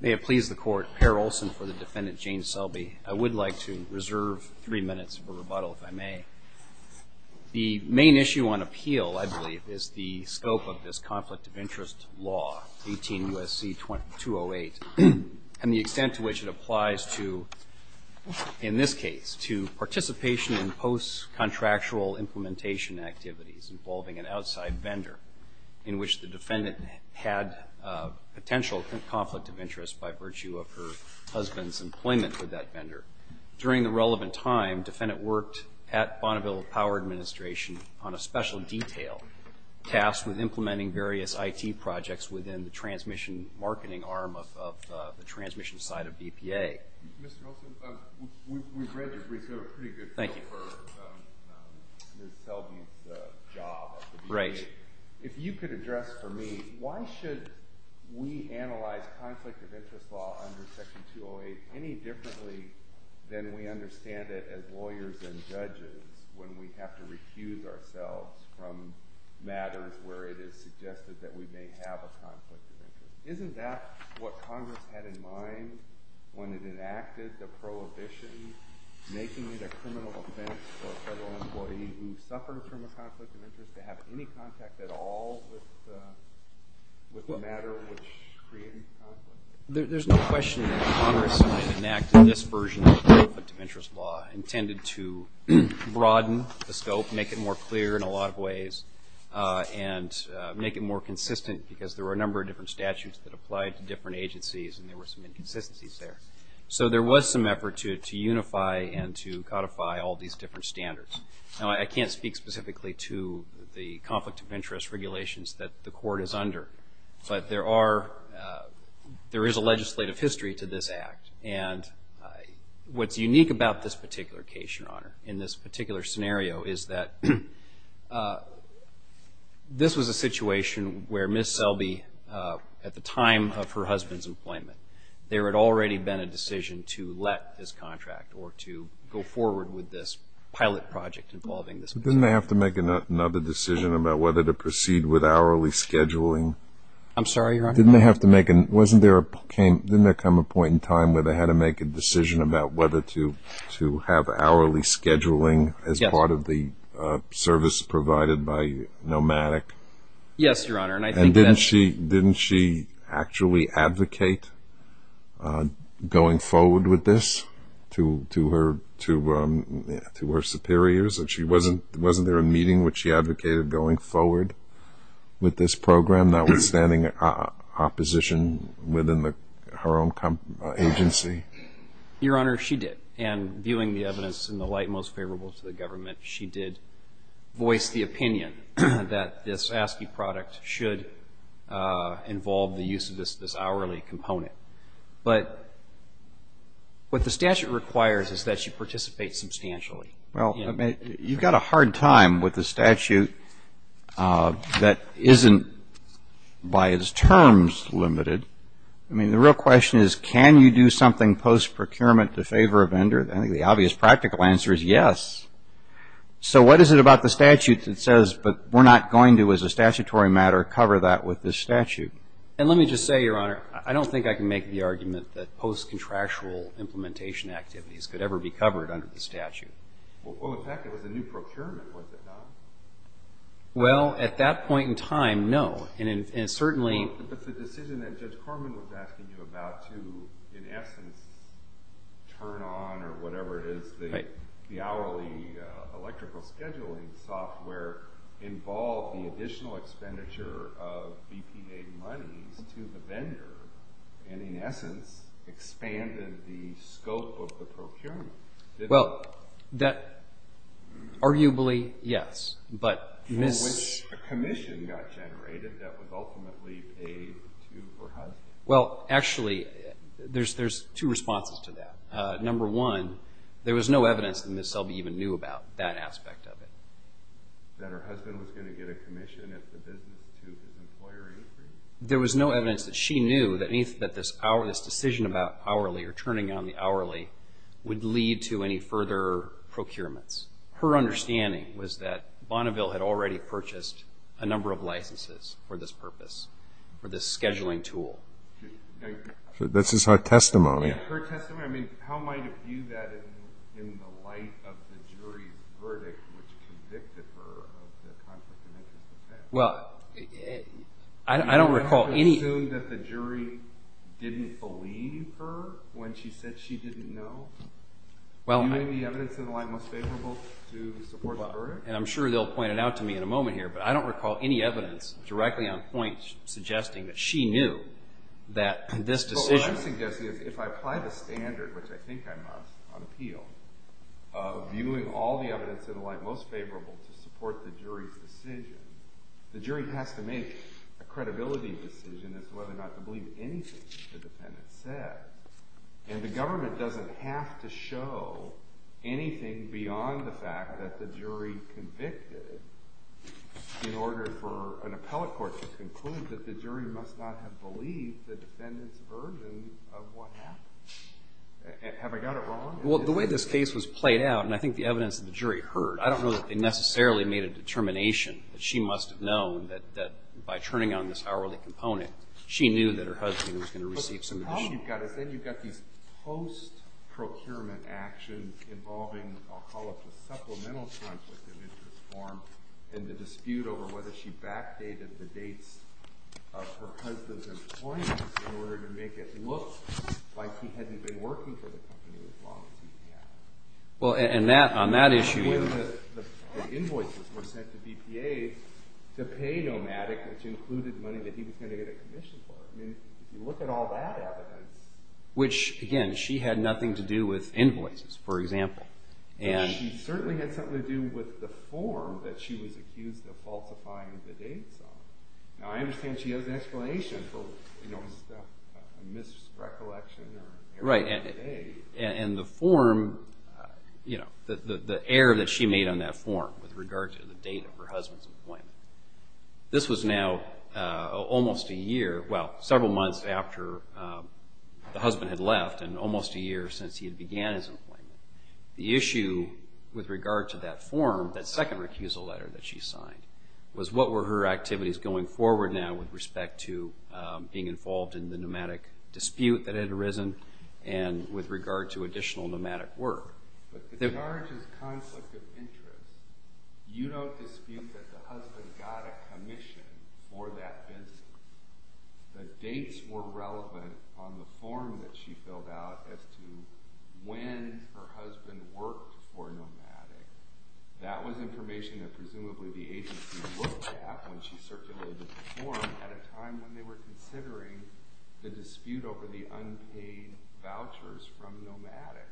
I would like to reserve three minutes for rebuttal if I may. The main issue on appeal, I believe, is the scope of this conflict of interest law, 18 U.S.C. 208, and the extent to which it applies to, in this case, to participation in post-contractual implementation activities involving an outside vendor in which the defendant had potentially been involved in. of interest by virtue of her husband's employment with that vendor. During the relevant time, defendant worked at Bonneville Power Administration on a special detail tasked with implementing various I.T. projects within the transmission marketing arm of the transmission side of BPA. Mr. Olson, we've read your brief. You have a pretty good feel for Ms. Selby's job at the BPA. If you could address for me, why should we analyze conflict of interest law under Section 208 any differently than we understand it as lawyers and judges when we have to recuse ourselves from matters where it is suggested that we may have a conflict of interest? Isn't that what Congress had in mind when it enacted the prohibition, making it a criminal offense for a federal employee who suffered from a conflict of interest to have any contact at all with the matter which created the conflict? There's no question that Congress enacted this version of the conflict of interest law intended to broaden the scope, make it more clear in a lot of ways, and make it more consistent because there were a number of different statutes that applied to different agencies and there were some inconsistencies there. So there was some effort to unify and to codify all these different standards. Now, I can't speak specifically to the conflict of interest regulations that the court is under, but there is a legislative history to this act. And what's unique about this particular case, Your Honor, in this particular scenario is that this was a situation where Ms. Selby, at the time of her husband's employment, there had already been a decision to let this contract or to go forward with this pilot project involving this business. Didn't they have to make another decision about whether to proceed with hourly scheduling? I'm sorry, Your Honor? Didn't there come a point in time where they had to make a decision about whether to have hourly scheduling as part of the service provided by Nomadic? Yes, Your Honor. And didn't she actually advocate going forward with this to her superiors? Wasn't there a meeting which she advocated going forward with this program, notwithstanding opposition within her own agency? Your Honor, she did. And viewing the evidence in the light most favorable to the government, she did voice the opinion that this ASCII product should involve the use of this hourly component. But what the statute requires is that she participate substantially. Well, you've got a hard time with the statute that isn't, by its terms, limited. I mean, the real question is, can you do something post-procurement to favor a vendor? I think the obvious practical answer is yes. So what is it about the statute that says, but we're not going to, as a statutory matter, cover that with this statute? And let me just say, Your Honor, I don't think I can make the argument that post-contractual implementation activities could ever be covered under the statute. Well, in fact, it was a new procurement, was it not? Well, at that point in time, no. But the decision that Judge Corman was asking you about to, in essence, turn on or whatever it is, the hourly electrical scheduling software, involved the additional expenditure of BPA monies to the vendor and, in essence, expanded the scope of the procurement. Well, that, arguably, yes. But Ms. For which a commission got generated that was ultimately paid to her husband. Well, actually, there's two responses to that. Number one, there was no evidence that Ms. Selby even knew about that aspect of it. That her husband was going to get a commission at the business to his employer Avery. There was no evidence that she knew that this decision about hourly or turning on the hourly would lead to any further procurements. Her understanding was that Bonneville had already purchased a number of licenses for this purpose, for this scheduling tool. This is her testimony. Her testimony? I mean, how might it view that in the light of the jury's verdict, which convicted her of the conflict of interest offense? Well, I don't recall any. Do you assume that the jury didn't believe her when she said she didn't know? Well, I. Viewing the evidence in the light most favorable to support the verdict? And I'm sure they'll point it out to me in a moment here, but I don't recall any evidence directly on point suggesting that she knew that this decision. What I'm suggesting is if I apply the standard, which I think I must on appeal, of viewing all the evidence in the light most favorable to support the jury's decision, the jury has to make a credibility decision as to whether or not to believe anything the defendant said. And the government doesn't have to show anything beyond the fact that the jury convicted in order for an appellate court to conclude that the jury must not have believed the defendant's version of what happened. Have I got it wrong? Well, the way this case was played out, and I think the evidence that the jury heard, I don't know that they necessarily made a determination that she must have known that by turning on this hourly component, she knew that her husband was going to receive some money. But the problem you've got is then you've got these post-procurement actions involving, I'll call up the supplemental transcript of interest form, and the dispute over whether she backdated the dates of her husband's employment in order to make it look like he hadn't been working for the company as long as he had. Well, and that, on that issue. The invoices were sent to BPA to pay Nomadic, which included money that he was going to get a commission for. I mean, if you look at all that evidence. Which, again, she had nothing to do with invoices, for example. And she certainly had something to do with the form that she was accused of falsifying the dates on. Now, I understand she has an explanation for, you know, a misrecollection or error in the date. Right. And the form, you know, the error that she made on that form with regard to the date of her husband's employment. This was now almost a year, well, several months after the husband had left and almost a year since he had began his employment. The issue with regard to that form, that second recusal letter that she signed, was what were her activities going forward now with respect to being involved in the Nomadic dispute that had arisen and with regard to additional Nomadic work. But the charge is conflict of interest. You don't dispute that the husband got a commission for that business. The dates were relevant on the form that she filled out as to when her husband worked for Nomadic. That was information that presumably the agency looked at when she circulated the form at a time when they were considering the dispute over the unpaid vouchers from Nomadic.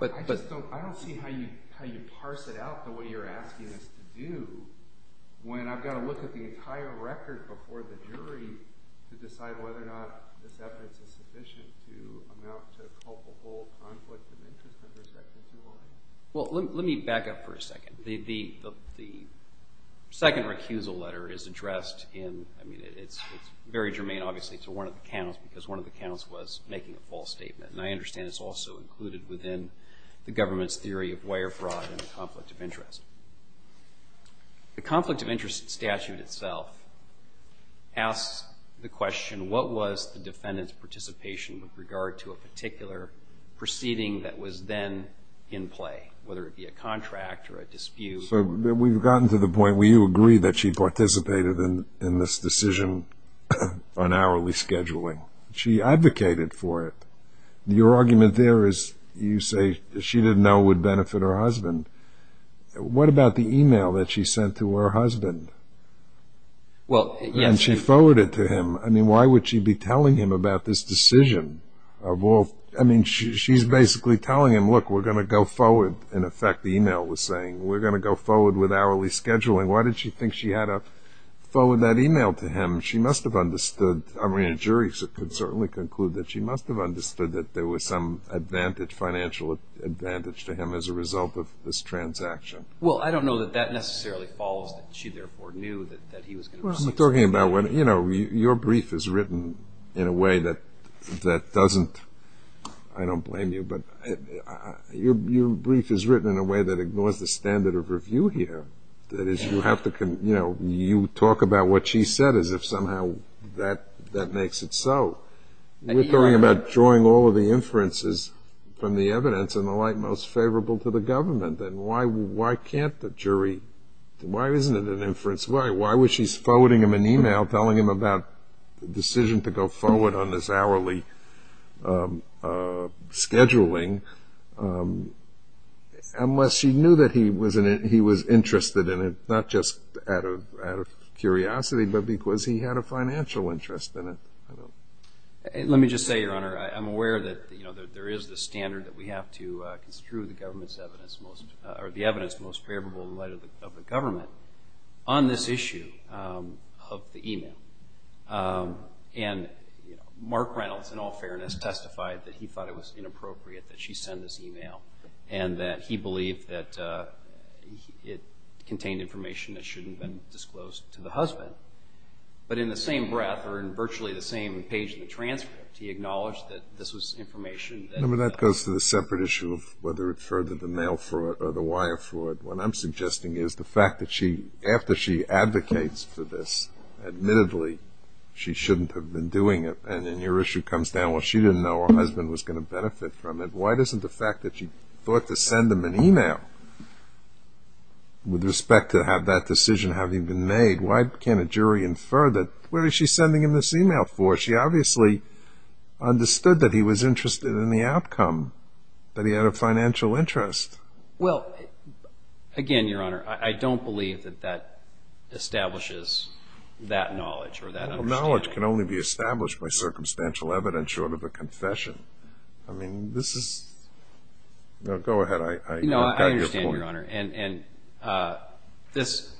I just don't see how you parse it out the way you're asking us to do when I've got to look at the entire record before the jury to decide whether or not this evidence is sufficient to amount to a culpable conflict of interest under Section 2.1. Well, let me back up for a second. The second recusal letter is addressed in, I mean, it's very germane obviously to one of the counts because one of the counts was making a false statement. And I understand it's also included within the government's theory of wire fraud and conflict of interest. The conflict of interest statute itself asks the question, what was the defendant's participation with regard to a particular proceeding that was then in play, whether it be a contract or a dispute? So we've gotten to the point where you agree that she participated in this decision on hourly scheduling. She advocated for it. Your argument there is you say she didn't know it would benefit her husband. What about the e-mail that she sent to her husband? Well, yes. And she forwarded to him. I mean, why would she be telling him about this decision of all? I mean, she's basically telling him, look, we're going to go forward. In effect, the e-mail was saying we're going to go forward with hourly scheduling. Why did she think she had to forward that e-mail to him? She must have understood, I mean, a jury could certainly conclude that she must have understood that there was some advantage, financial advantage to him as a result of this transaction. Well, I don't know that that necessarily follows that she therefore knew that he was going to proceed. Well, I'm talking about when, you know, your brief is written in a way that doesn't, I don't blame you, but your brief is written in a way that ignores the standard of review here. That is, you have to, you know, you talk about what she said as if somehow that makes it so. We're talking about drawing all of the inferences from the evidence and the like most favorable to the government. And why can't the jury, why isn't it an inference? Why was she forwarding him an e-mail telling him about the decision to go forward on this hourly scheduling unless she knew that he was interested in it, not just out of curiosity, but because he had a financial interest in it? Let me just say, Your Honor, I'm aware that, you know, there is the standard that we have to construe the evidence most favorable in light of the government on this issue of the e-mail. And, you know, Mark Reynolds, in all fairness, testified that he thought it was inappropriate that she send this e-mail and that he believed that it contained information that shouldn't have been disclosed to the husband. But in the same breath, or in virtually the same page in the transcript, he acknowledged that this was information that... Remember, that goes to the separate issue of whether it furthered the mail fraud or the wire fraud. What I'm suggesting is the fact that she, after she advocates for this, admittedly she shouldn't have been doing it. And then your issue comes down, well, she didn't know her husband was going to benefit from it. Why doesn't the fact that she thought to send him an e-mail with respect to have that decision having been made, why can't a jury infer that? What is she sending him this e-mail for? She obviously understood that he was interested in the outcome, that he had a financial interest. Well, again, Your Honor, I don't believe that that establishes that knowledge or that understanding. Knowledge can only be established by circumstantial evidence short of a confession. I mean, this is... No, go ahead. No, I understand, Your Honor. And this,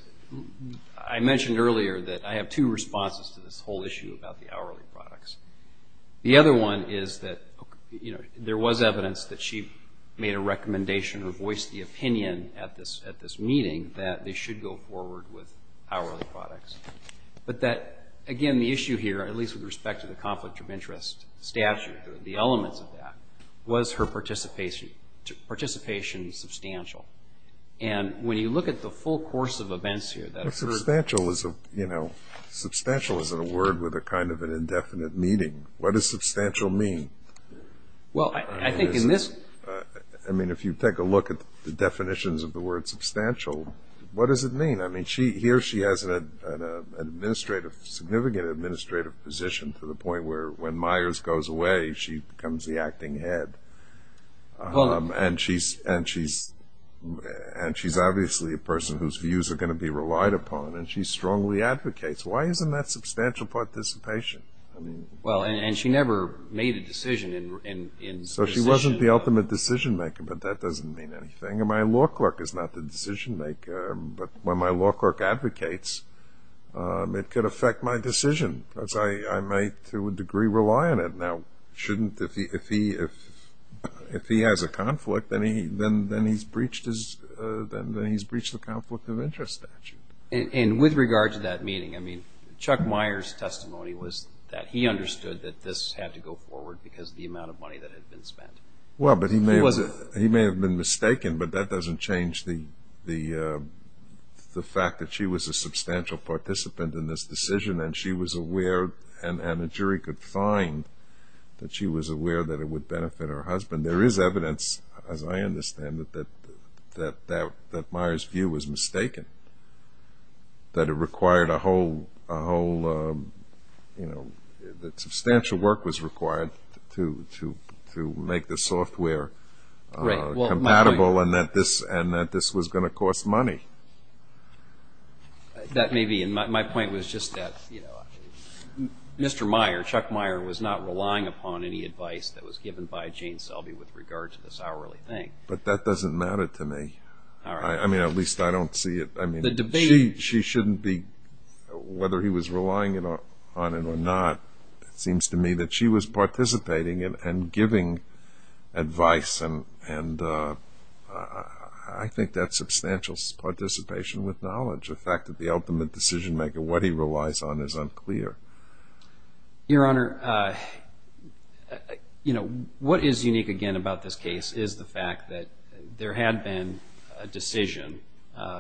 I mentioned earlier that I have two responses to this whole issue about the hourly products. The other one is that, you know, there was evidence that she made a recommendation or voiced the opinion at this meeting that they should go forward with hourly products. But that, again, the issue here, at least with respect to the conflict of interest statute, the elements of that, was her participation substantial. And when you look at the full course of events here... Substantial is a word with a kind of an indefinite meaning. What does substantial mean? Well, I think in this... I mean, if you take a look at the definitions of the word substantial, what does it mean? I mean, here she has a significant administrative position to the point where when Myers goes away, she becomes the acting head. And she's obviously a person whose views are going to be relied upon, and she strongly advocates. Why isn't that substantial participation? Well, and she never made a decision in... So she wasn't the ultimate decision-maker, but that doesn't mean anything. My law clerk is not the decision-maker, but when my law clerk advocates, it could affect my decision because I might, to a degree, rely on it. Now, shouldn't if he has a conflict, then he's breached the conflict of interest statute. And with regard to that meeting, I mean, Chuck Myers' testimony was that he understood that this had to go forward because of the amount of money that had been spent. Well, but he may have been mistaken, but that doesn't change the fact that she was a substantial participant in this decision and she was aware and a jury could find that she was aware that it would benefit her husband. There is evidence, as I understand it, that Myers' view was mistaken, that it required a whole, you know, that substantial work was required to make the software compatible and that this was going to cost money. That may be, and my point was just that, you know, Mr. Myers, Chuck Myers was not relying upon any advice that was given by Jane Selby with regard to this hourly thing. But that doesn't matter to me. I mean, at least I don't see it. I mean, she shouldn't be, whether he was relying on it or not, it seems to me that she was participating and giving advice and I think that's substantial participation with knowledge. The fact that the ultimate decision-maker, what he relies on, is unclear. Your Honor, you know, what is unique again about this case is the fact that there had been a decision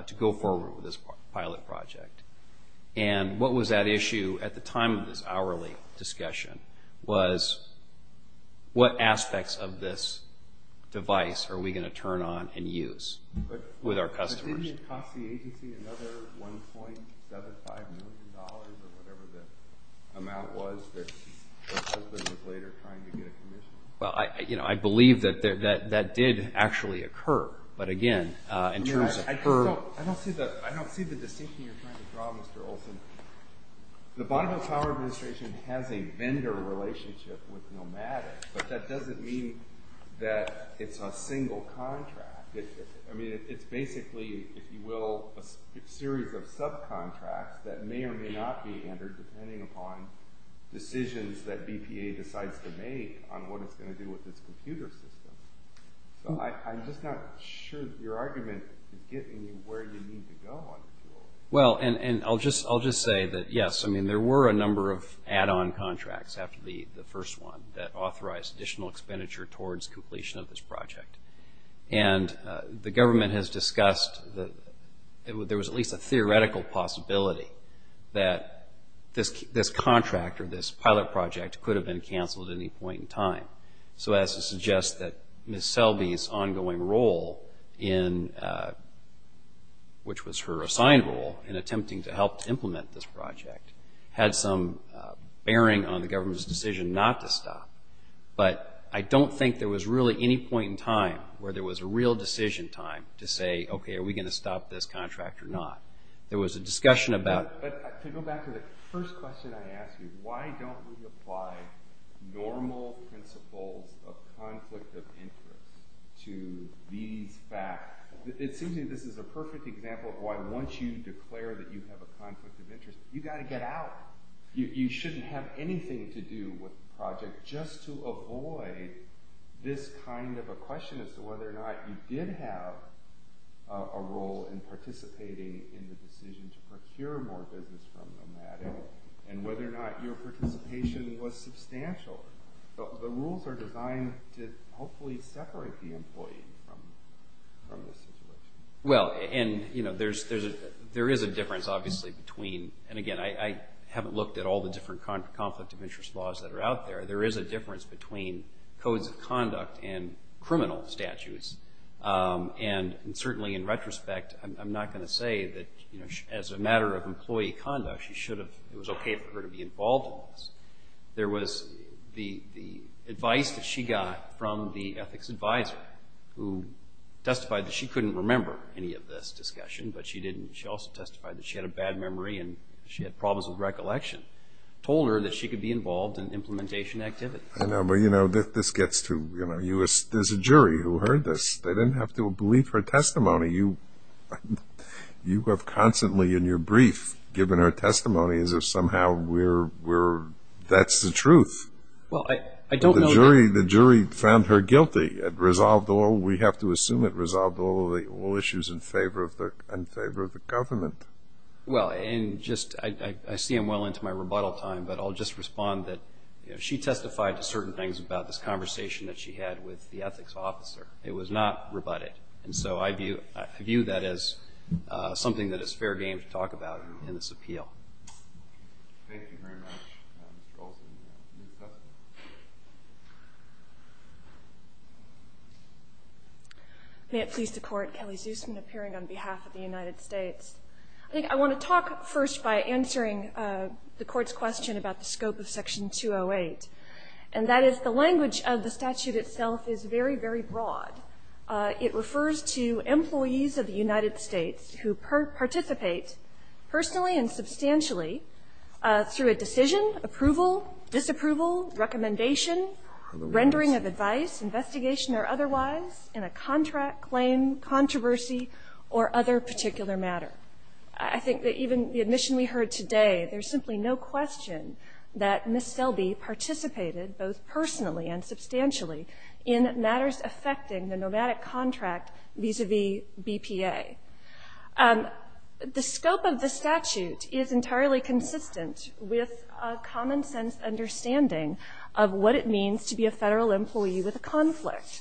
to go forward with this pilot project. And what was at issue at the time of this hourly discussion was what aspects of this device are we going to turn on and use with our customers. But didn't it cost the agency another $1.75 million or whatever the amount was that her husband was later trying to get a commission? Well, you know, I believe that that did actually occur. But again, in terms of her— Your Honor, I don't see the distinction you're trying to draw, Mr. Olson. The Bonneville Power Administration has a vendor relationship with Nomadic, but that doesn't mean that it's a single contract. I mean, it's basically, if you will, a series of subcontracts that may or may not be entered depending upon decisions that BPA decides to make on what it's going to do with its computer system. So I'm just not sure that your argument is getting you where you need to go on this. Well, and I'll just say that, yes, I mean, there were a number of add-on contracts after the first one that authorized additional expenditure towards completion of this project. And the government has discussed that there was at least a theoretical possibility that this contract or this pilot project could have been canceled at any point in time. So that's to suggest that Ms. Selby's ongoing role, which was her assigned role, in attempting to help implement this project, had some bearing on the government's decision not to stop. But I don't think there was really any point in time where there was a real decision time to say, okay, are we going to stop this contract or not? There was a discussion about... But to go back to the first question I asked you, why don't we apply normal principles of conflict of interest to these facts? It seems to me this is a perfect example of why once you declare that you have a conflict of interest, you've got to get out. You shouldn't have anything to do with the project just to avoid this kind of a question as to whether or not you did have a role in participating in the decision to procure more business from Nomadic and whether or not your participation was substantial. The rules are designed to hopefully separate the employee from the situation. Well, and there is a difference, obviously, between... And again, I haven't looked at all the different conflict of interest laws that are out there. There is a difference between codes of conduct and criminal statutes. And certainly in retrospect, I'm not going to say that as a matter of employee conduct, it was okay for her to be involved in all this. There was the advice that she got from the ethics advisor who testified that she couldn't remember any of this discussion, but she also testified that she had a bad memory and she had problems with recollection. She told her that she could be involved in implementation activities. I know, but you know, this gets to... There's a jury who heard this. They didn't have to believe her testimony. You have constantly in your brief given her testimony as if somehow that's the truth. Well, I don't know that... The jury found her guilty. It resolved all... We have to assume it resolved all issues in favor of the government. Well, I see I'm well into my rebuttal time, but I'll just respond that she testified to certain things about this conversation that she had with the ethics officer. It was not rebutted. And so I view that as something that is fair game to talk about in this appeal. Thank you very much, Mr. Olson. New testimony. May it please the Court. Kelly Zusman appearing on behalf of the United States. I think I want to talk first by answering the Court's question about the scope of Section 208, and that is the language of the statute itself is very, very broad. It refers to employees of the United States who participate personally and substantially through a decision, approval, disapproval, recommendation, rendering of advice, investigation or otherwise, in a contract, claim, controversy, or other particular matter. I think that even the admission we heard today, there's simply no question that Ms. Selby participated both personally and substantially in matters affecting the nomadic contract vis-a-vis BPA. The scope of the statute is entirely consistent with a common sense understanding of what it means to be a federal employee with a conflict.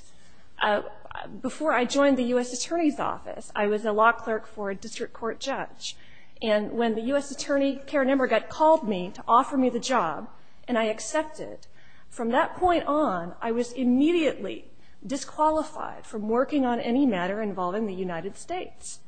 Before I joined the U.S. Attorney's Office, I was a law clerk for a district court judge. And when the U.S. Attorney, Karen Emberg, called me to offer me the job, and I accepted, from that point on, I was immediately disqualified from working on any matter involving the United States.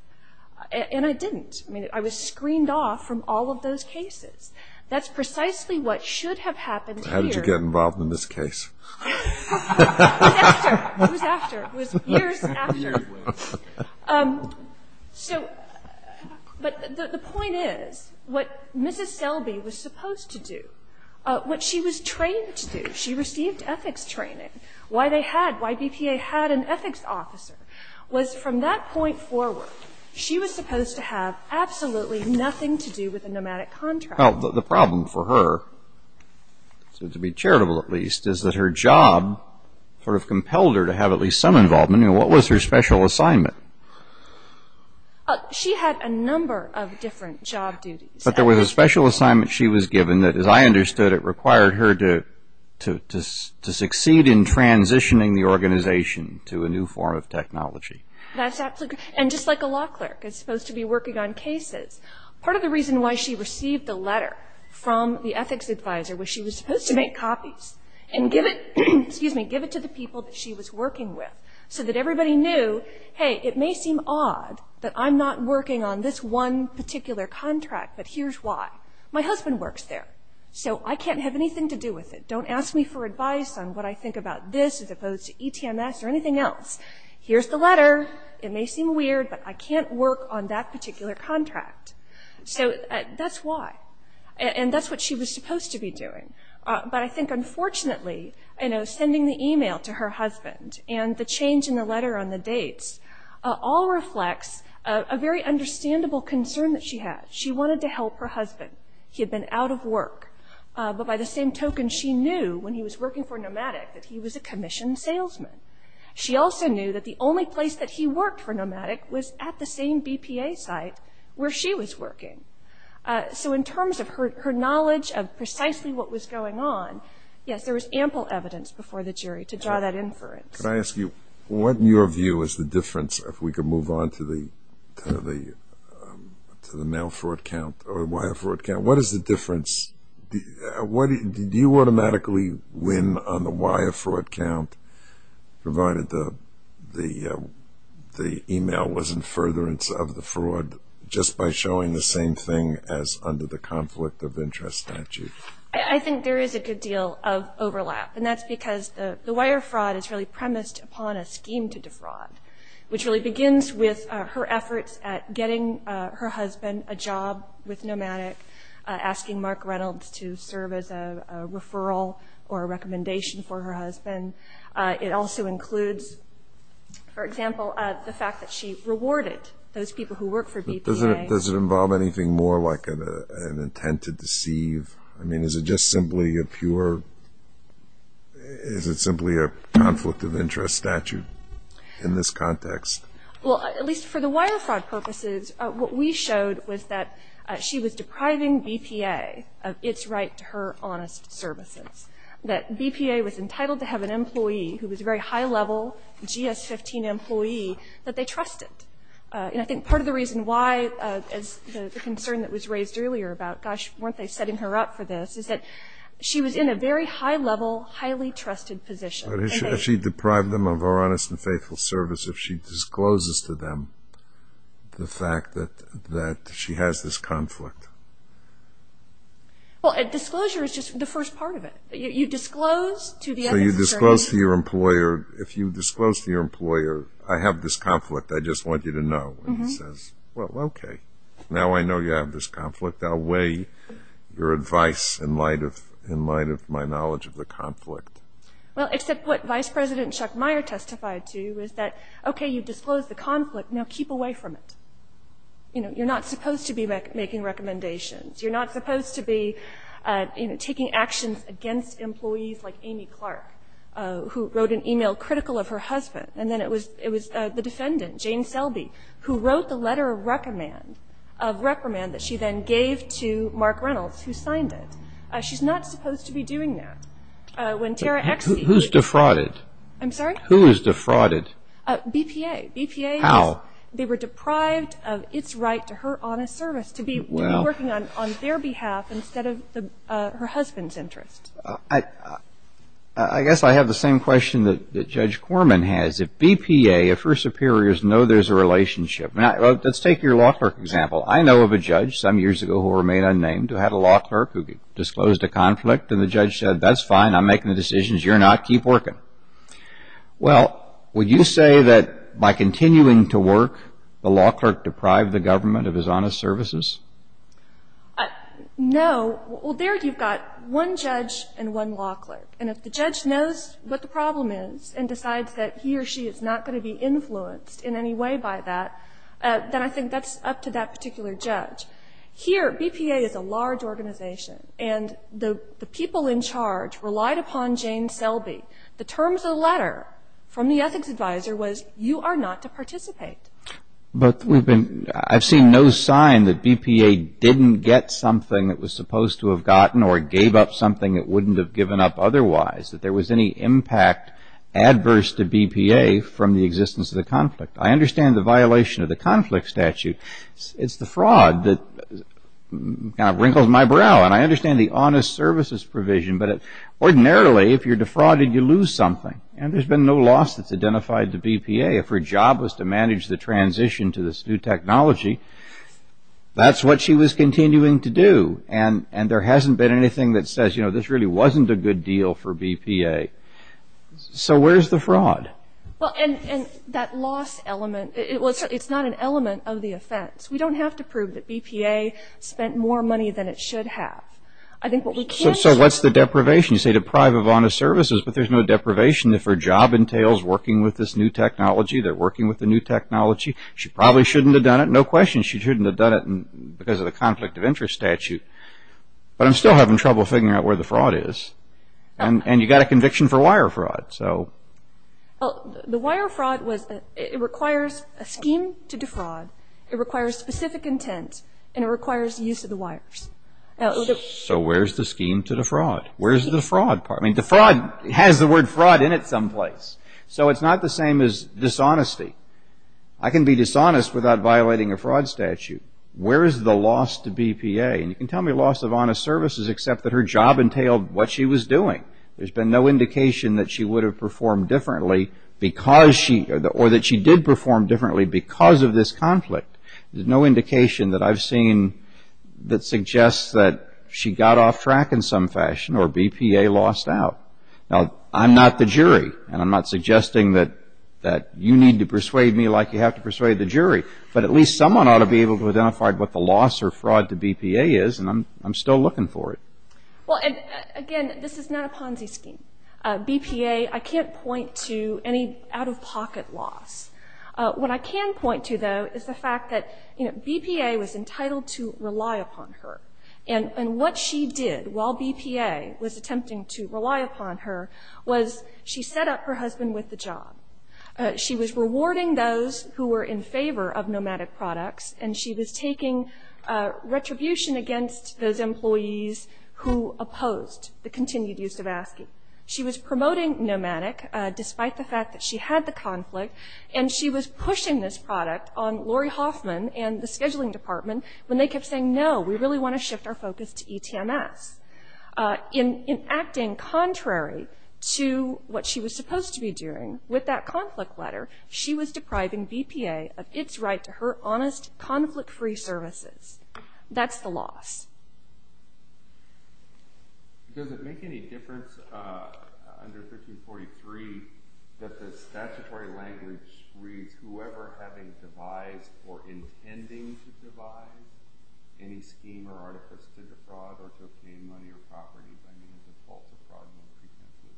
And I didn't. I mean, I was screened off from all of those cases. That's precisely what should have happened here. How did you get involved in this case? It was after. It was after. It was years after. Years later. So, but the point is, what Mrs. Selby was supposed to do, what she was trained to do, she received ethics training. Why they had, why BPA had an ethics officer, was from that point forward, she was supposed to have absolutely nothing to do with a nomadic contract. Well, the problem for her, to be charitable at least, is that her job sort of compelled her to have at least some involvement. I mean, what was her special assignment? She had a number of different job duties. But there was a special assignment she was given that, as I understood it, required her to succeed in transitioning the organization to a new form of technology. That's absolutely. And just like a law clerk is supposed to be working on cases, part of the reason why she received a letter from the ethics advisor was she was supposed to make copies and give it, excuse me, give it to the people that she was working with so that everybody knew, hey, it may seem odd that I'm not working on this one particular contract, but here's why. My husband works there. So I can't have anything to do with it. Don't ask me for advice on what I think about this as opposed to ETMS or anything else. Here's the letter. It may seem weird, but I can't work on that particular contract. So that's why. And that's what she was supposed to be doing. But I think, unfortunately, sending the email to her husband and the change in the letter on the dates all reflects a very understandable concern that she had. She wanted to help her husband. He had been out of work. But by the same token, she knew when he was working for Nomadic that he was a commissioned salesman. She also knew that the only place that he worked for Nomadic was at the same BPA site where she was working. So in terms of her knowledge of precisely what was going on, yes, there was ample evidence before the jury to draw that inference. Could I ask you, what in your view is the difference, if we could move on to the mail fraud count or wire fraud count, what is the difference? Did you automatically win on the wire fraud count provided the email was in furtherance of the fraud just by showing the same thing as under the conflict of interest statute? I think there is a good deal of overlap. And that's because the wire fraud is really premised upon a scheme to defraud, which really begins with her efforts at getting her husband a job with Nomadic, asking Mark Reynolds to serve as a referral or a recommendation for her husband. It also includes, for example, the fact that she rewarded those people who work for BPA. I mean, is it just simply a pure, is it simply a conflict of interest statute in this context? Well, at least for the wire fraud purposes, what we showed was that she was depriving BPA of its right to her honest services, that BPA was entitled to have an employee who was a very high-level GS-15 employee that they trusted. And I think part of the reason why, as the concern that was raised earlier about, gosh, weren't they setting her up for this, is that she was in a very high-level, highly trusted position. But if she deprived them of her honest and faithful service, if she discloses to them the fact that she has this conflict? Well, disclosure is just the first part of it. You disclose to the other concern. So you disclose to your employer, if you disclose to your employer, I have this conflict, I just want you to know. And he says, well, okay, now I know you have this conflict. I'll weigh your advice in light of my knowledge of the conflict. Well, except what Vice President Chuck Meyer testified to is that, okay, you've disclosed the conflict, now keep away from it. You're not supposed to be making recommendations. You're not supposed to be taking actions against employees like Amy Clark, who wrote an email critical of her husband. And then it was the defendant, Jane Selby, who wrote the letter of reprimand that she then gave to Mark Reynolds, who signed it. She's not supposed to be doing that. When Tara X. Who's defrauded? I'm sorry? Who is defrauded? BPA. BPA. How? They were deprived of its right to her honest service, to be working on their behalf instead of her husband's interest. I guess I have the same question that Judge Corman has. If BPA, if her superiors know there's a relationship, let's take your law clerk example. I know of a judge some years ago who remained unnamed who had a law clerk who disclosed a conflict, and the judge said, that's fine, I'm making the decisions, you're not, keep working. Well, would you say that by continuing to work, the law clerk deprived the government of his honest services? No. Well, there you've got one judge and one law clerk. And if the judge knows what the problem is and decides that he or she is not going to be influenced in any way by that, then I think that's up to that particular judge. Here, BPA is a large organization, and the people in charge relied upon Jane Selby. The terms of the letter from the ethics advisor was, you are not to participate. But I've seen no sign that BPA didn't get something it was supposed to have gotten or gave up something it wouldn't have given up otherwise, that there was any impact adverse to BPA from the existence of the conflict. I understand the violation of the conflict statute. It's the fraud that kind of wrinkles my brow. And I understand the honest services provision, but ordinarily, if you're defrauded, you lose something. And there's been no loss that's identified to BPA. If her job was to manage the transition to this new technology, that's what she was continuing to do. And there hasn't been anything that says this really wasn't a good deal for BPA. So where's the fraud? And that loss element, it's not an element of the offense. We don't have to prove that BPA spent more money than it should have. So what's the deprivation? You say deprive of honest services, but there's no deprivation if her job entails working with this new technology. They're working with the new technology. She probably shouldn't have done it. No question she shouldn't have done it because of the conflict of interest statute. But I'm still having trouble figuring out where the fraud is. And you've got a conviction for wire fraud, so. Well, the wire fraud, it requires a scheme to defraud. It requires specific intent, and it requires the use of the wires. So where's the scheme to defraud? Where's the fraud part? I mean, defraud has the word fraud in it someplace. So it's not the same as dishonesty. I can be dishonest without violating a fraud statute. Where is the loss to BPA? And you can tell me loss of honest services except that her job entailed what she was doing. There's been no indication that she would have performed differently because she or that she did perform differently because of this conflict. There's no indication that I've seen that suggests that she got off track in some fashion or BPA lost out. Now, I'm not the jury, and I'm not suggesting that you need to persuade me like you have to persuade the jury. But at least someone ought to be able to identify what the loss or fraud to BPA is, and I'm still looking for it. Well, again, this is not a Ponzi scheme. BPA, I can't point to any out-of-pocket loss. What I can point to, though, is the fact that BPA was entitled to rely upon her. And what she did while BPA was attempting to rely upon her was she set up her husband with the job. She was rewarding those who were in favor of nomadic products, and she was taking retribution against those employees who opposed the continued use of ASCII. She was promoting nomadic despite the fact that she had the conflict, and she was pushing this product on Lori Hoffman and the scheduling department when they kept saying, no, we really want to shift our focus to ETMS. In acting contrary to what she was supposed to be doing with that conflict letter, she was depriving BPA of its right to her honest, conflict-free services. That's the loss. Does it make any difference under 1543 that the statutory language reads whoever having devised or intending to devise any scheme or artifice to defraud or to obtain money or property by means of false or fraudulent pretenses?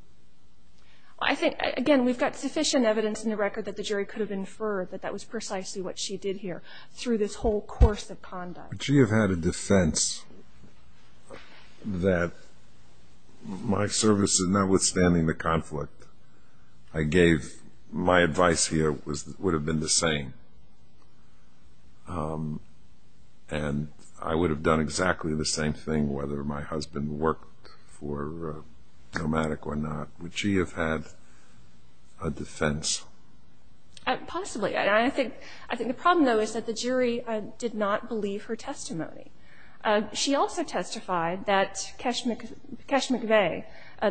I think, again, we've got sufficient evidence in the record that the jury could have inferred that that was precisely what she did here through this whole course of conduct. Would she have had a defense that my services, notwithstanding the conflict I gave, my advice here would have been the same, and I would have done exactly the same thing whether my husband worked for Nomadic or not? Would she have had a defense? Possibly. I think the problem, though, is that the jury did not believe her testimony. She also testified that Kesh McVeigh,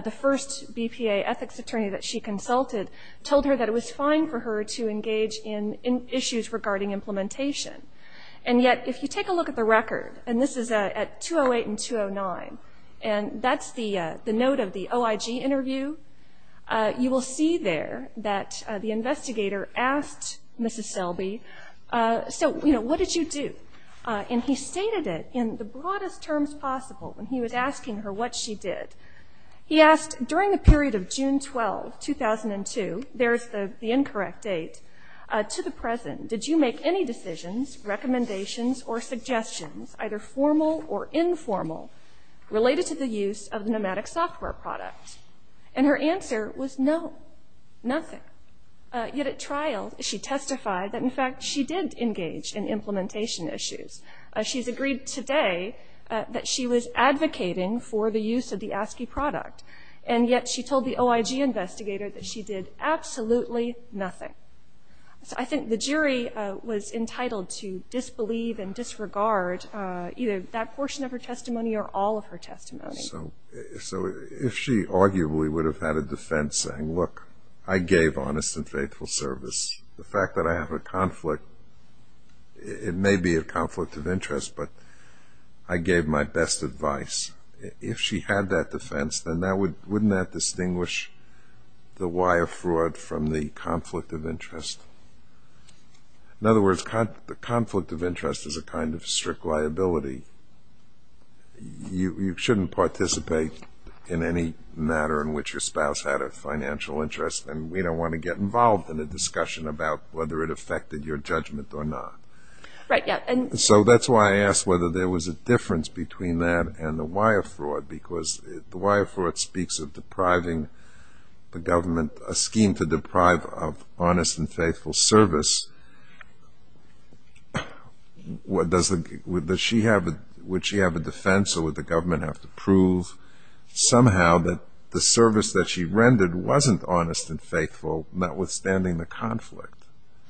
the first BPA ethics attorney that she consulted, told her that it was fine for her to engage in issues regarding implementation. And yet if you take a look at the record, and this is at 208 and 209, and that's the note of the OIG interview, you will see there that the investigator asked Mrs. Selby, so, you know, what did you do? And he stated it in the broadest terms possible when he was asking her what she did. He asked, during the period of June 12, 2002, there's the incorrect date, to the present, did you make any decisions, recommendations, or suggestions, either formal or informal, related to the use of the Nomadic software product? And her answer was no, nothing. Yet at trial, she testified that, in fact, she did engage in implementation issues. She's agreed today that she was advocating for the use of the ASCII product, and yet she told the OIG investigator that she did absolutely nothing. So I think the jury was entitled to disbelieve and disregard either that portion of her testimony or all of her testimony. So if she arguably would have had a defense saying, look, I gave honest and faithful service, the fact that I have a conflict, it may be a conflict of interest, but I gave my best advice, if she had that defense, then wouldn't that distinguish the why of fraud from the conflict of interest? In other words, the conflict of interest is a kind of strict liability. You shouldn't participate in any matter in which your spouse had a financial interest, and we don't want to get involved in a discussion about whether it affected your judgment or not. Right, yeah. So that's why I asked whether there was a difference between that and the why of fraud, because the why of fraud speaks of depriving the government, a scheme to deprive of honest and faithful service. Would she have a defense, or would the government have to prove somehow that the service that she rendered wasn't honest and faithful, notwithstanding the conflict?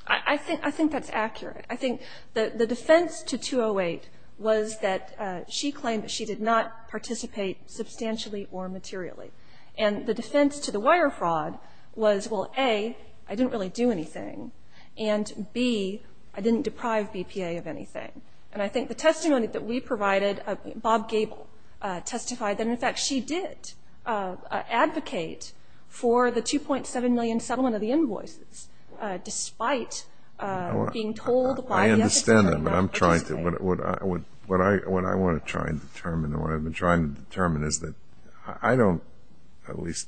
I think that's accurate. I think the defense to 208 was that she claimed that she did not participate substantially or materially. And the defense to the why of fraud was, well, A, I didn't really do anything, and B, I didn't deprive BPA of anything. And I think the testimony that we provided, Bob Gable testified that, in fact, she did advocate for the $2.7 million settlement of the invoices, despite being told by the FCC. I understand that, but I'm trying to – what I want to try and determine and what I've been trying to determine is that I don't, at least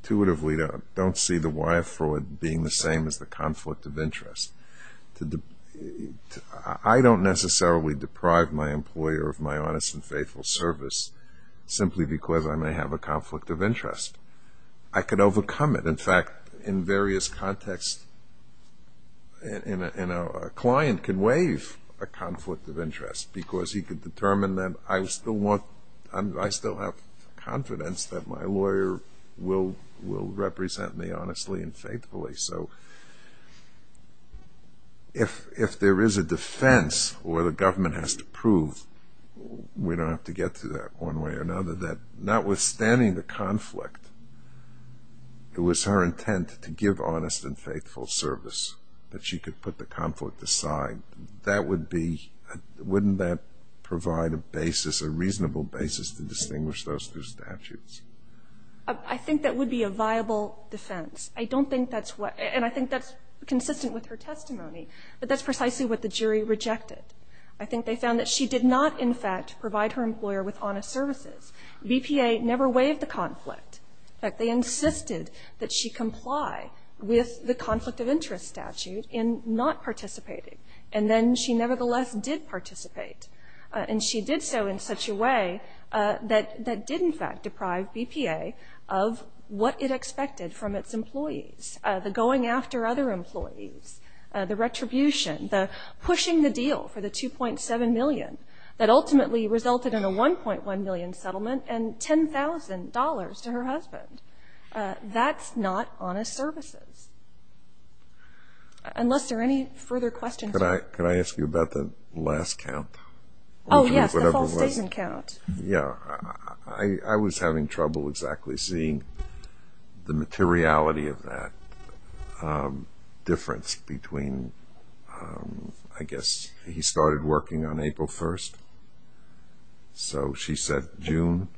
intuitively, don't see the why of fraud being the same as the conflict of interest. I don't necessarily deprive my employer of my honest and faithful service simply because I may have a conflict of interest. I could overcome it. In fact, in various contexts, a client can waive a conflict of interest because he could determine that I still want – I still have confidence that my lawyer will represent me honestly and faithfully. So if there is a defense where the government has to prove – we don't have to get to that one way or another – that notwithstanding the conflict, it was her intent to give honest and faithful service, that she could put the conflict aside. That would be – wouldn't that provide a basis, a reasonable basis to distinguish those two statutes? I think that would be a viable defense. I don't think that's what – and I think that's consistent with her testimony, but that's precisely what the jury rejected. I think they found that she did not, in fact, provide her employer with honest services. BPA never waived the conflict. In fact, they insisted that she comply with the conflict of interest statute in not participating, and then she nevertheless did participate. And she did so in such a way that did, in fact, deprive BPA of what it expected from its employees, the going after other employees, the retribution, the pushing the deal for the $2.7 million that ultimately resulted in a $1.1 million settlement and $10,000 to her husband. That's not honest services. Unless there are any further questions. Could I ask you about the last count? Oh, yes, the false statement count. Yeah. I was having trouble exactly seeing the materiality of that difference between, I guess, he started working on April 1st, so she said June.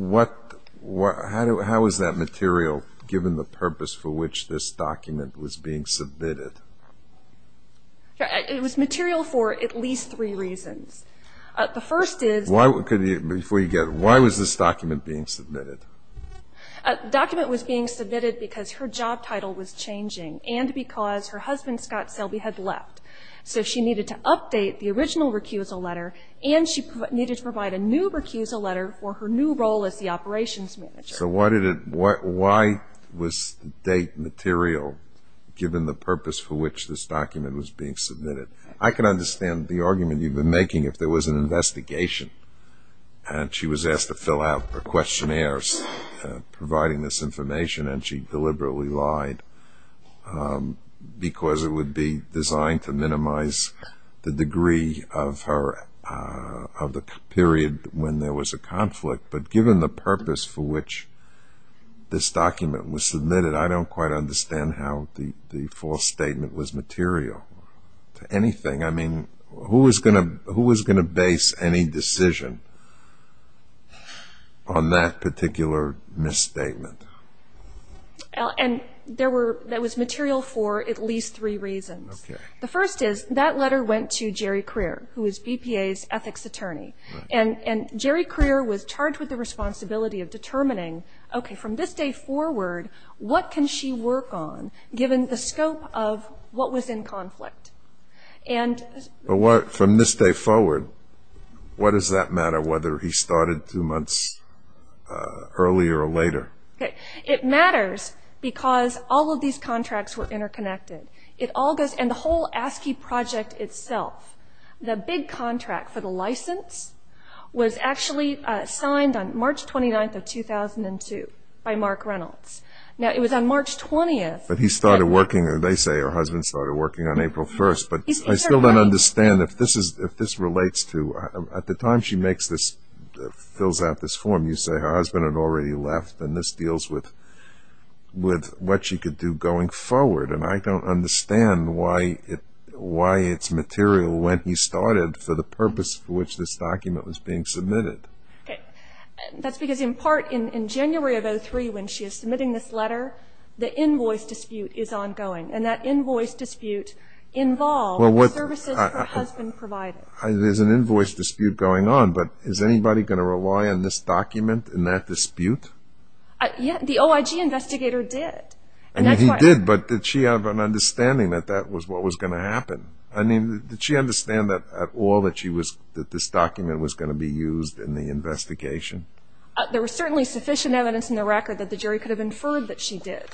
How is that material given the purpose for which this document was being submitted? It was material for at least three reasons. The first is why was this document being submitted? The document was being submitted because her job title was changing and because her husband, Scott Selby, had left. So she needed to update the original recusal letter and she needed to provide a new recusal letter for her new role as the operations manager. So why was the date material given the purpose for which this document was being submitted? I can understand the argument you've been making if there was an investigation and she was asked to fill out her questionnaires providing this information and she deliberately lied because it would be designed to minimize the degree of her, of the period when there was a conflict. But given the purpose for which this document was submitted, I don't quite understand how the false statement was material to anything. I mean, who was going to base any decision on that particular misstatement? And that was material for at least three reasons. Okay. The first is that letter went to Jerry Crear, who is BPA's ethics attorney. And Jerry Crear was charged with the responsibility of determining, okay, from this day forward, what can she work on given the scope of what was in conflict? From this day forward, what does that matter, whether he started two months earlier or later? It matters because all of these contracts were interconnected. And the whole ASCII project itself, the big contract for the license, was actually signed on March 29th of 2002 by Mark Reynolds. Now, it was on March 20th. But he started working, or they say her husband started working on April 1st. But I still don't understand if this relates to, at the time she makes this, fills out this form, you say her husband had already left, and this deals with what she could do going forward. And I don't understand why it's material when he started for the purpose for which this document was being submitted. Okay. That's because in part, in January of 2003 when she is submitting this letter, the invoice dispute is ongoing. And that invoice dispute involves services her husband provided. There's an invoice dispute going on, but is anybody going to rely on this document in that dispute? The OIG investigator did. He did, but did she have an understanding that that was what was going to happen? I mean, did she understand at all that this document was going to be used in the investigation? There was certainly sufficient evidence in the record that the jury could have inferred that she did.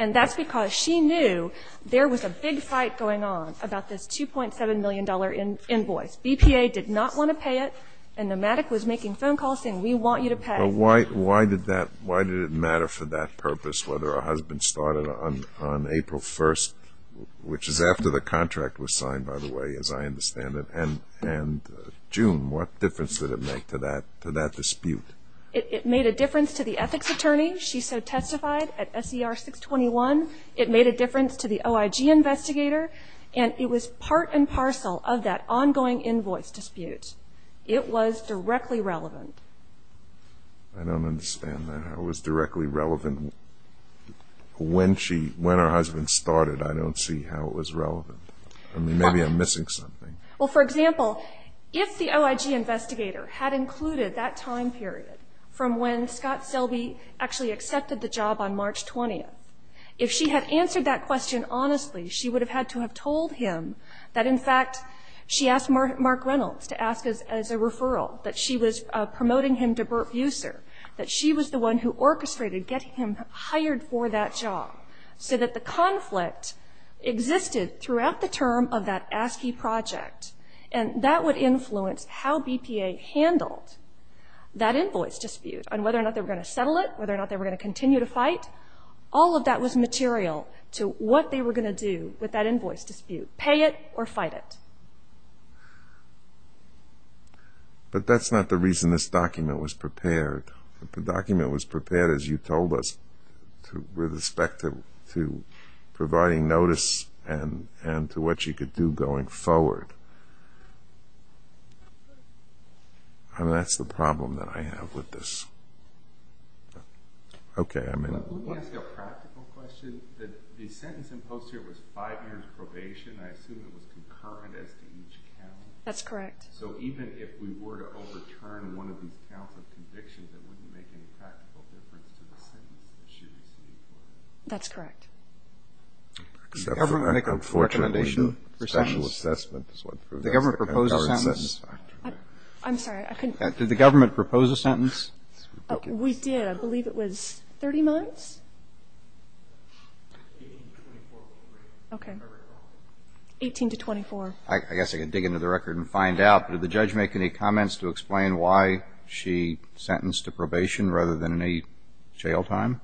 And that's because she knew there was a big fight going on about this $2.7 million invoice. BPA did not want to pay it, and Nomadic was making phone calls saying, we want you to pay. Why did it matter for that purpose whether her husband started on April 1st, which is after the contract was signed, by the way, as I understand it, and June? What difference did it make to that dispute? It made a difference to the ethics attorney. She so testified at SER 621. It made a difference to the OIG investigator, and it was part and parcel of that ongoing invoice dispute. It was directly relevant. I don't understand that. It was directly relevant when she, when her husband started. I don't see how it was relevant. I mean, maybe I'm missing something. Well, for example, if the OIG investigator had included that time period from when Scott Selby actually accepted the job on March 20th, if she had answered that question honestly, she would have had to have told him that, in fact, she asked Mark Reynolds to ask as a referral, that she was promoting him to Burt Buser, that she was the one who orchestrated getting him hired for that job, so that the conflict existed throughout the term of that ASCII project, and that would influence how BPA handled that invoice dispute and whether or not they were going to settle it, whether or not they were going to continue to fight. All of that was material to what they were going to do with that invoice dispute, pay it or fight it. But that's not the reason this document was prepared. The document was prepared, as you told us, with respect to providing notice and to what you could do going forward. I mean, that's the problem that I have with this. Okay, I'm in. Let me ask you a practical question. The sentence imposed here was five years' probation. I assume it was concurrent as to each count. That's correct. So even if we were to overturn one of these counts of conviction, that wouldn't make any practical difference to the sentence that she received? That's correct. Does the government make a recommendation for sentences? Special assessment is what proves that's the current sentence. I'm sorry. Did the government propose a sentence? We did. I believe it was 30 months. Okay. 18 to 24. I guess I could dig into the record and find out, but did the judge make any comments to explain why she sentenced to probation rather than a jail time?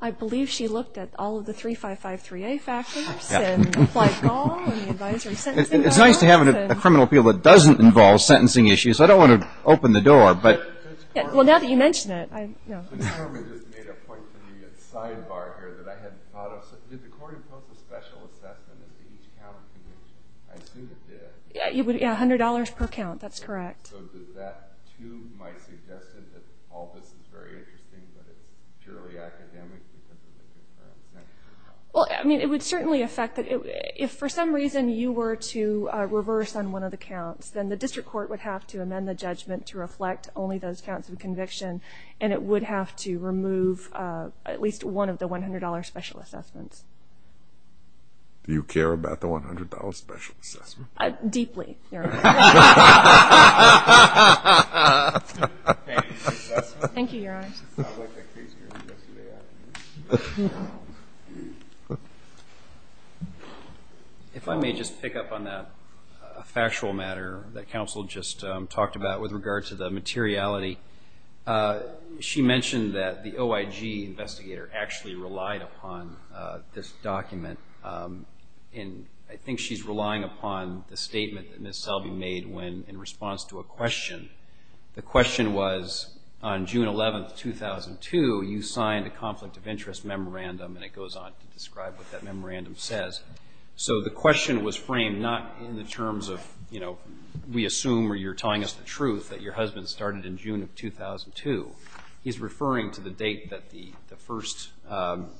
I believe she looked at all of the 3553A factors and applied law and the advisory sentencing. It's nice to have a criminal appeal that doesn't involve sentencing issues. I don't want to open the door. Well, now that you mention it. The government just made a point to me, a sidebar here that I hadn't thought of. Did the court impose a special assessment as to each count of conviction? I assume it did. Yeah, $100 per count. That's correct. So did that, too, might suggest that all this is very interesting, but it's purely academic because of the concurrent sentence? Well, I mean, it would certainly affect it. If for some reason you were to reverse on one of the counts, then the district court would have to amend the judgment to reflect only those counts of conviction, and it would have to remove at least one of the $100 special assessments. Do you care about the $100 special assessment? Deeply. Thank you, Your Honor. I liked that case hearing yesterday afternoon. If I may just pick up on that factual matter that counsel just talked about with regard to the materiality. She mentioned that the OIG investigator actually relied upon this document, and I think she's relying upon the statement that Ms. Selby made in response to a question. The question was, on June 11, 2002, you signed a conflict of interest memorandum, and it goes on to describe what that memorandum says. So the question was framed not in the terms of, you know, we assume or you're telling us the truth that your husband started in June of 2002. He's referring to the date that the first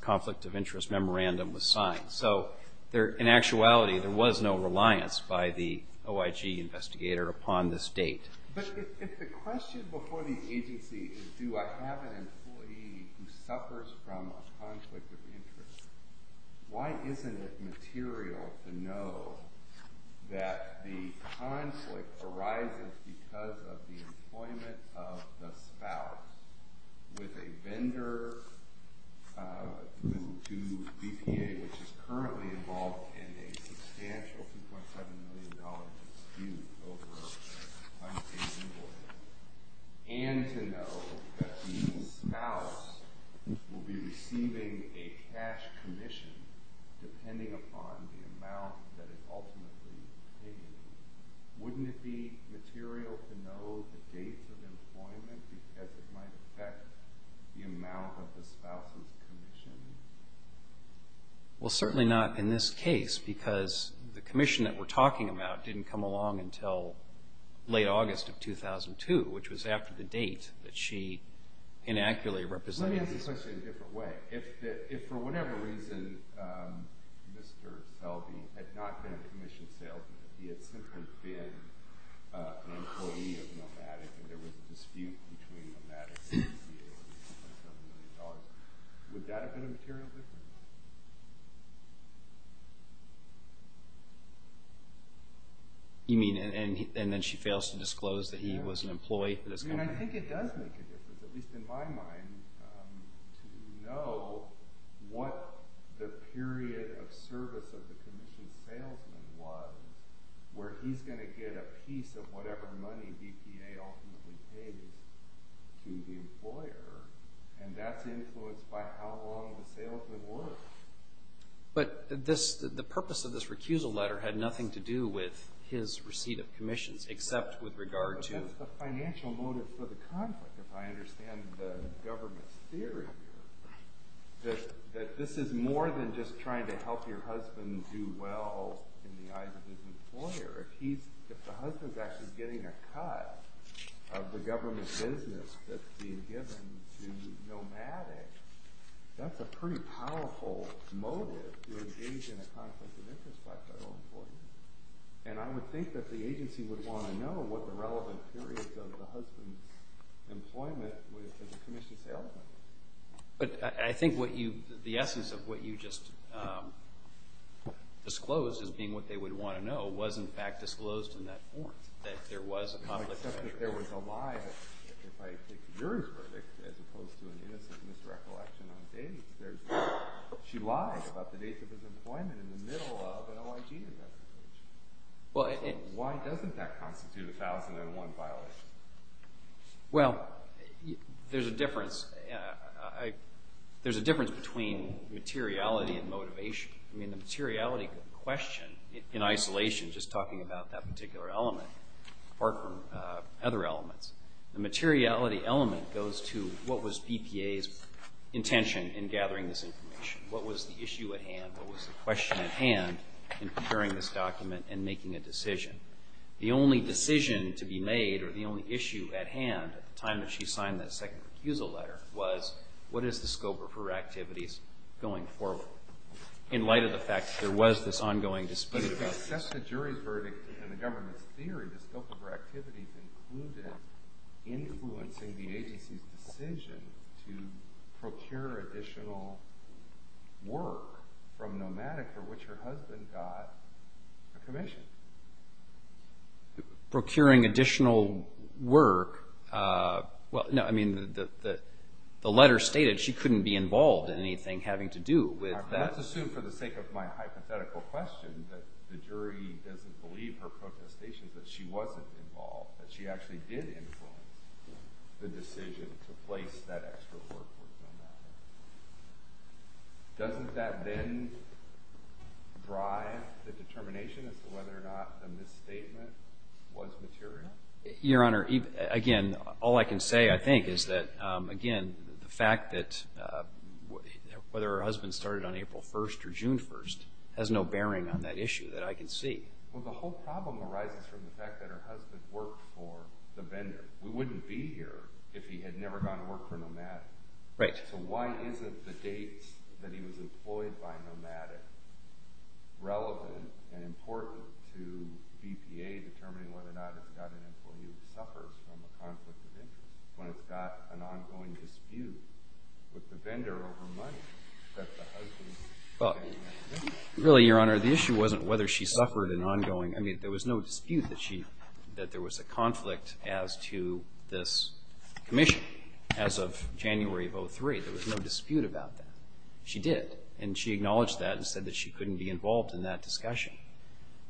conflict of interest memorandum was signed. So in actuality, there was no reliance by the OIG investigator upon this date. But if the question before the agency is do I have an employee who suffers from a conflict of interest, why isn't it material to know that the conflict arises because of the employment of the spouse with a vendor to BPA, which is currently involved in a substantial $2.7 million dispute over unpaid employment, and to know that the spouse will be receiving a cash commission depending upon the amount that is ultimately taken, wouldn't it be material to know the date of employment because it might affect the amount of the spouse's commission? Well, certainly not in this case because the commission that we're talking about didn't come along until late August of 2002, which was after the date that she inaccurately represented. Let me ask the question in a different way. If for whatever reason Mr. Selby had not been a commissioned salesman, he had simply been an employee of Nomadic and there was a dispute between Nomadic and BPA over $2.7 million, would that have been a material difference? You mean and then she fails to disclose that he was an employee of this company? I think it does make a difference, at least in my mind, to know what the period of service of the commissioned salesman was where he's going to get a piece of whatever money BPA ultimately pays to the employer and that's influenced by how long the salesman worked. But the purpose of this recusal letter had nothing to do with his receipt of commissions except with regard to... What is the financial motive for the conflict, if I understand the government's theory here? That this is more than just trying to help your husband do well in the eyes of his employer. If the husband's actually getting a cut of the government business that's being given to Nomadic, that's a pretty powerful motive to engage in a conflict of interest by federal employees. And I would think that the agency would want to know what the relevant period of the husband's employment was for the commissioned salesman. But I think the essence of what you just disclosed as being what they would want to know was in fact disclosed in that warrant, that there was a conflict of interest. Except that there was a lie, if I take your verdict, as opposed to an innocent misrecollection on date. She lied about the date of his employment in the middle of an OIG investigation. Why doesn't that constitute a 1001 violation? Well, there's a difference between materiality and motivation. I mean, the materiality question in isolation, just talking about that particular element, or other elements, the materiality element goes to what was BPA's intention in gathering this information. What was the issue at hand? What was the question at hand in preparing this document and making a decision? The only decision to be made or the only issue at hand at the time that she signed that second recusal letter was what is the scope of her activities going forward? In light of the fact that there was this ongoing dispute about this. Except the jury's verdict and the government's theory, the scope of her activities included influencing the agency's decision to procure additional work from Nomadica, which her husband got a commission. Procuring additional work? Well, no, I mean, the letter stated she couldn't be involved in anything having to do with that. Well, let's assume for the sake of my hypothetical question that the jury doesn't believe her protestations that she wasn't involved, that she actually did influence the decision to place that extra work with Nomadica. Doesn't that then drive the determination as to whether or not the misstatement was material? Your Honor, again, all I can say, I think, is that, again, the fact that whether her husband started on April 1st or June 1st has no bearing on that issue that I can see. Well, the whole problem arises from the fact that her husband worked for the vendor. We wouldn't be here if he had never gone to work for Nomadica. So why isn't the date that he was employed by Nomadica relevant and important to BPA determining whether or not it's got an employee who suffers from a conflict of interest when it's got an ongoing dispute with the vendor over money that the husband is paying? Really, Your Honor, the issue wasn't whether she suffered an ongoing I mean, there was no dispute that there was a conflict as to this commission as of January of 2003. There was no dispute about that. She did, and she acknowledged that and said that she couldn't be involved in that discussion.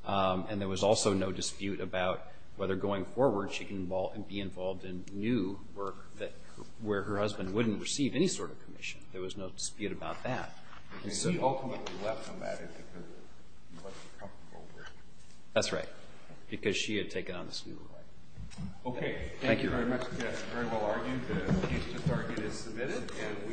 And there was also no dispute about whether going forward she can be involved in new work where her husband wouldn't receive any sort of commission. There was no dispute about that. She ultimately left Nomadica because she wasn't comfortable with it. That's right, because she had taken on this new role. Okay. Thank you very much. Yes, very well argued. The case to target is submitted and we will be adjourned.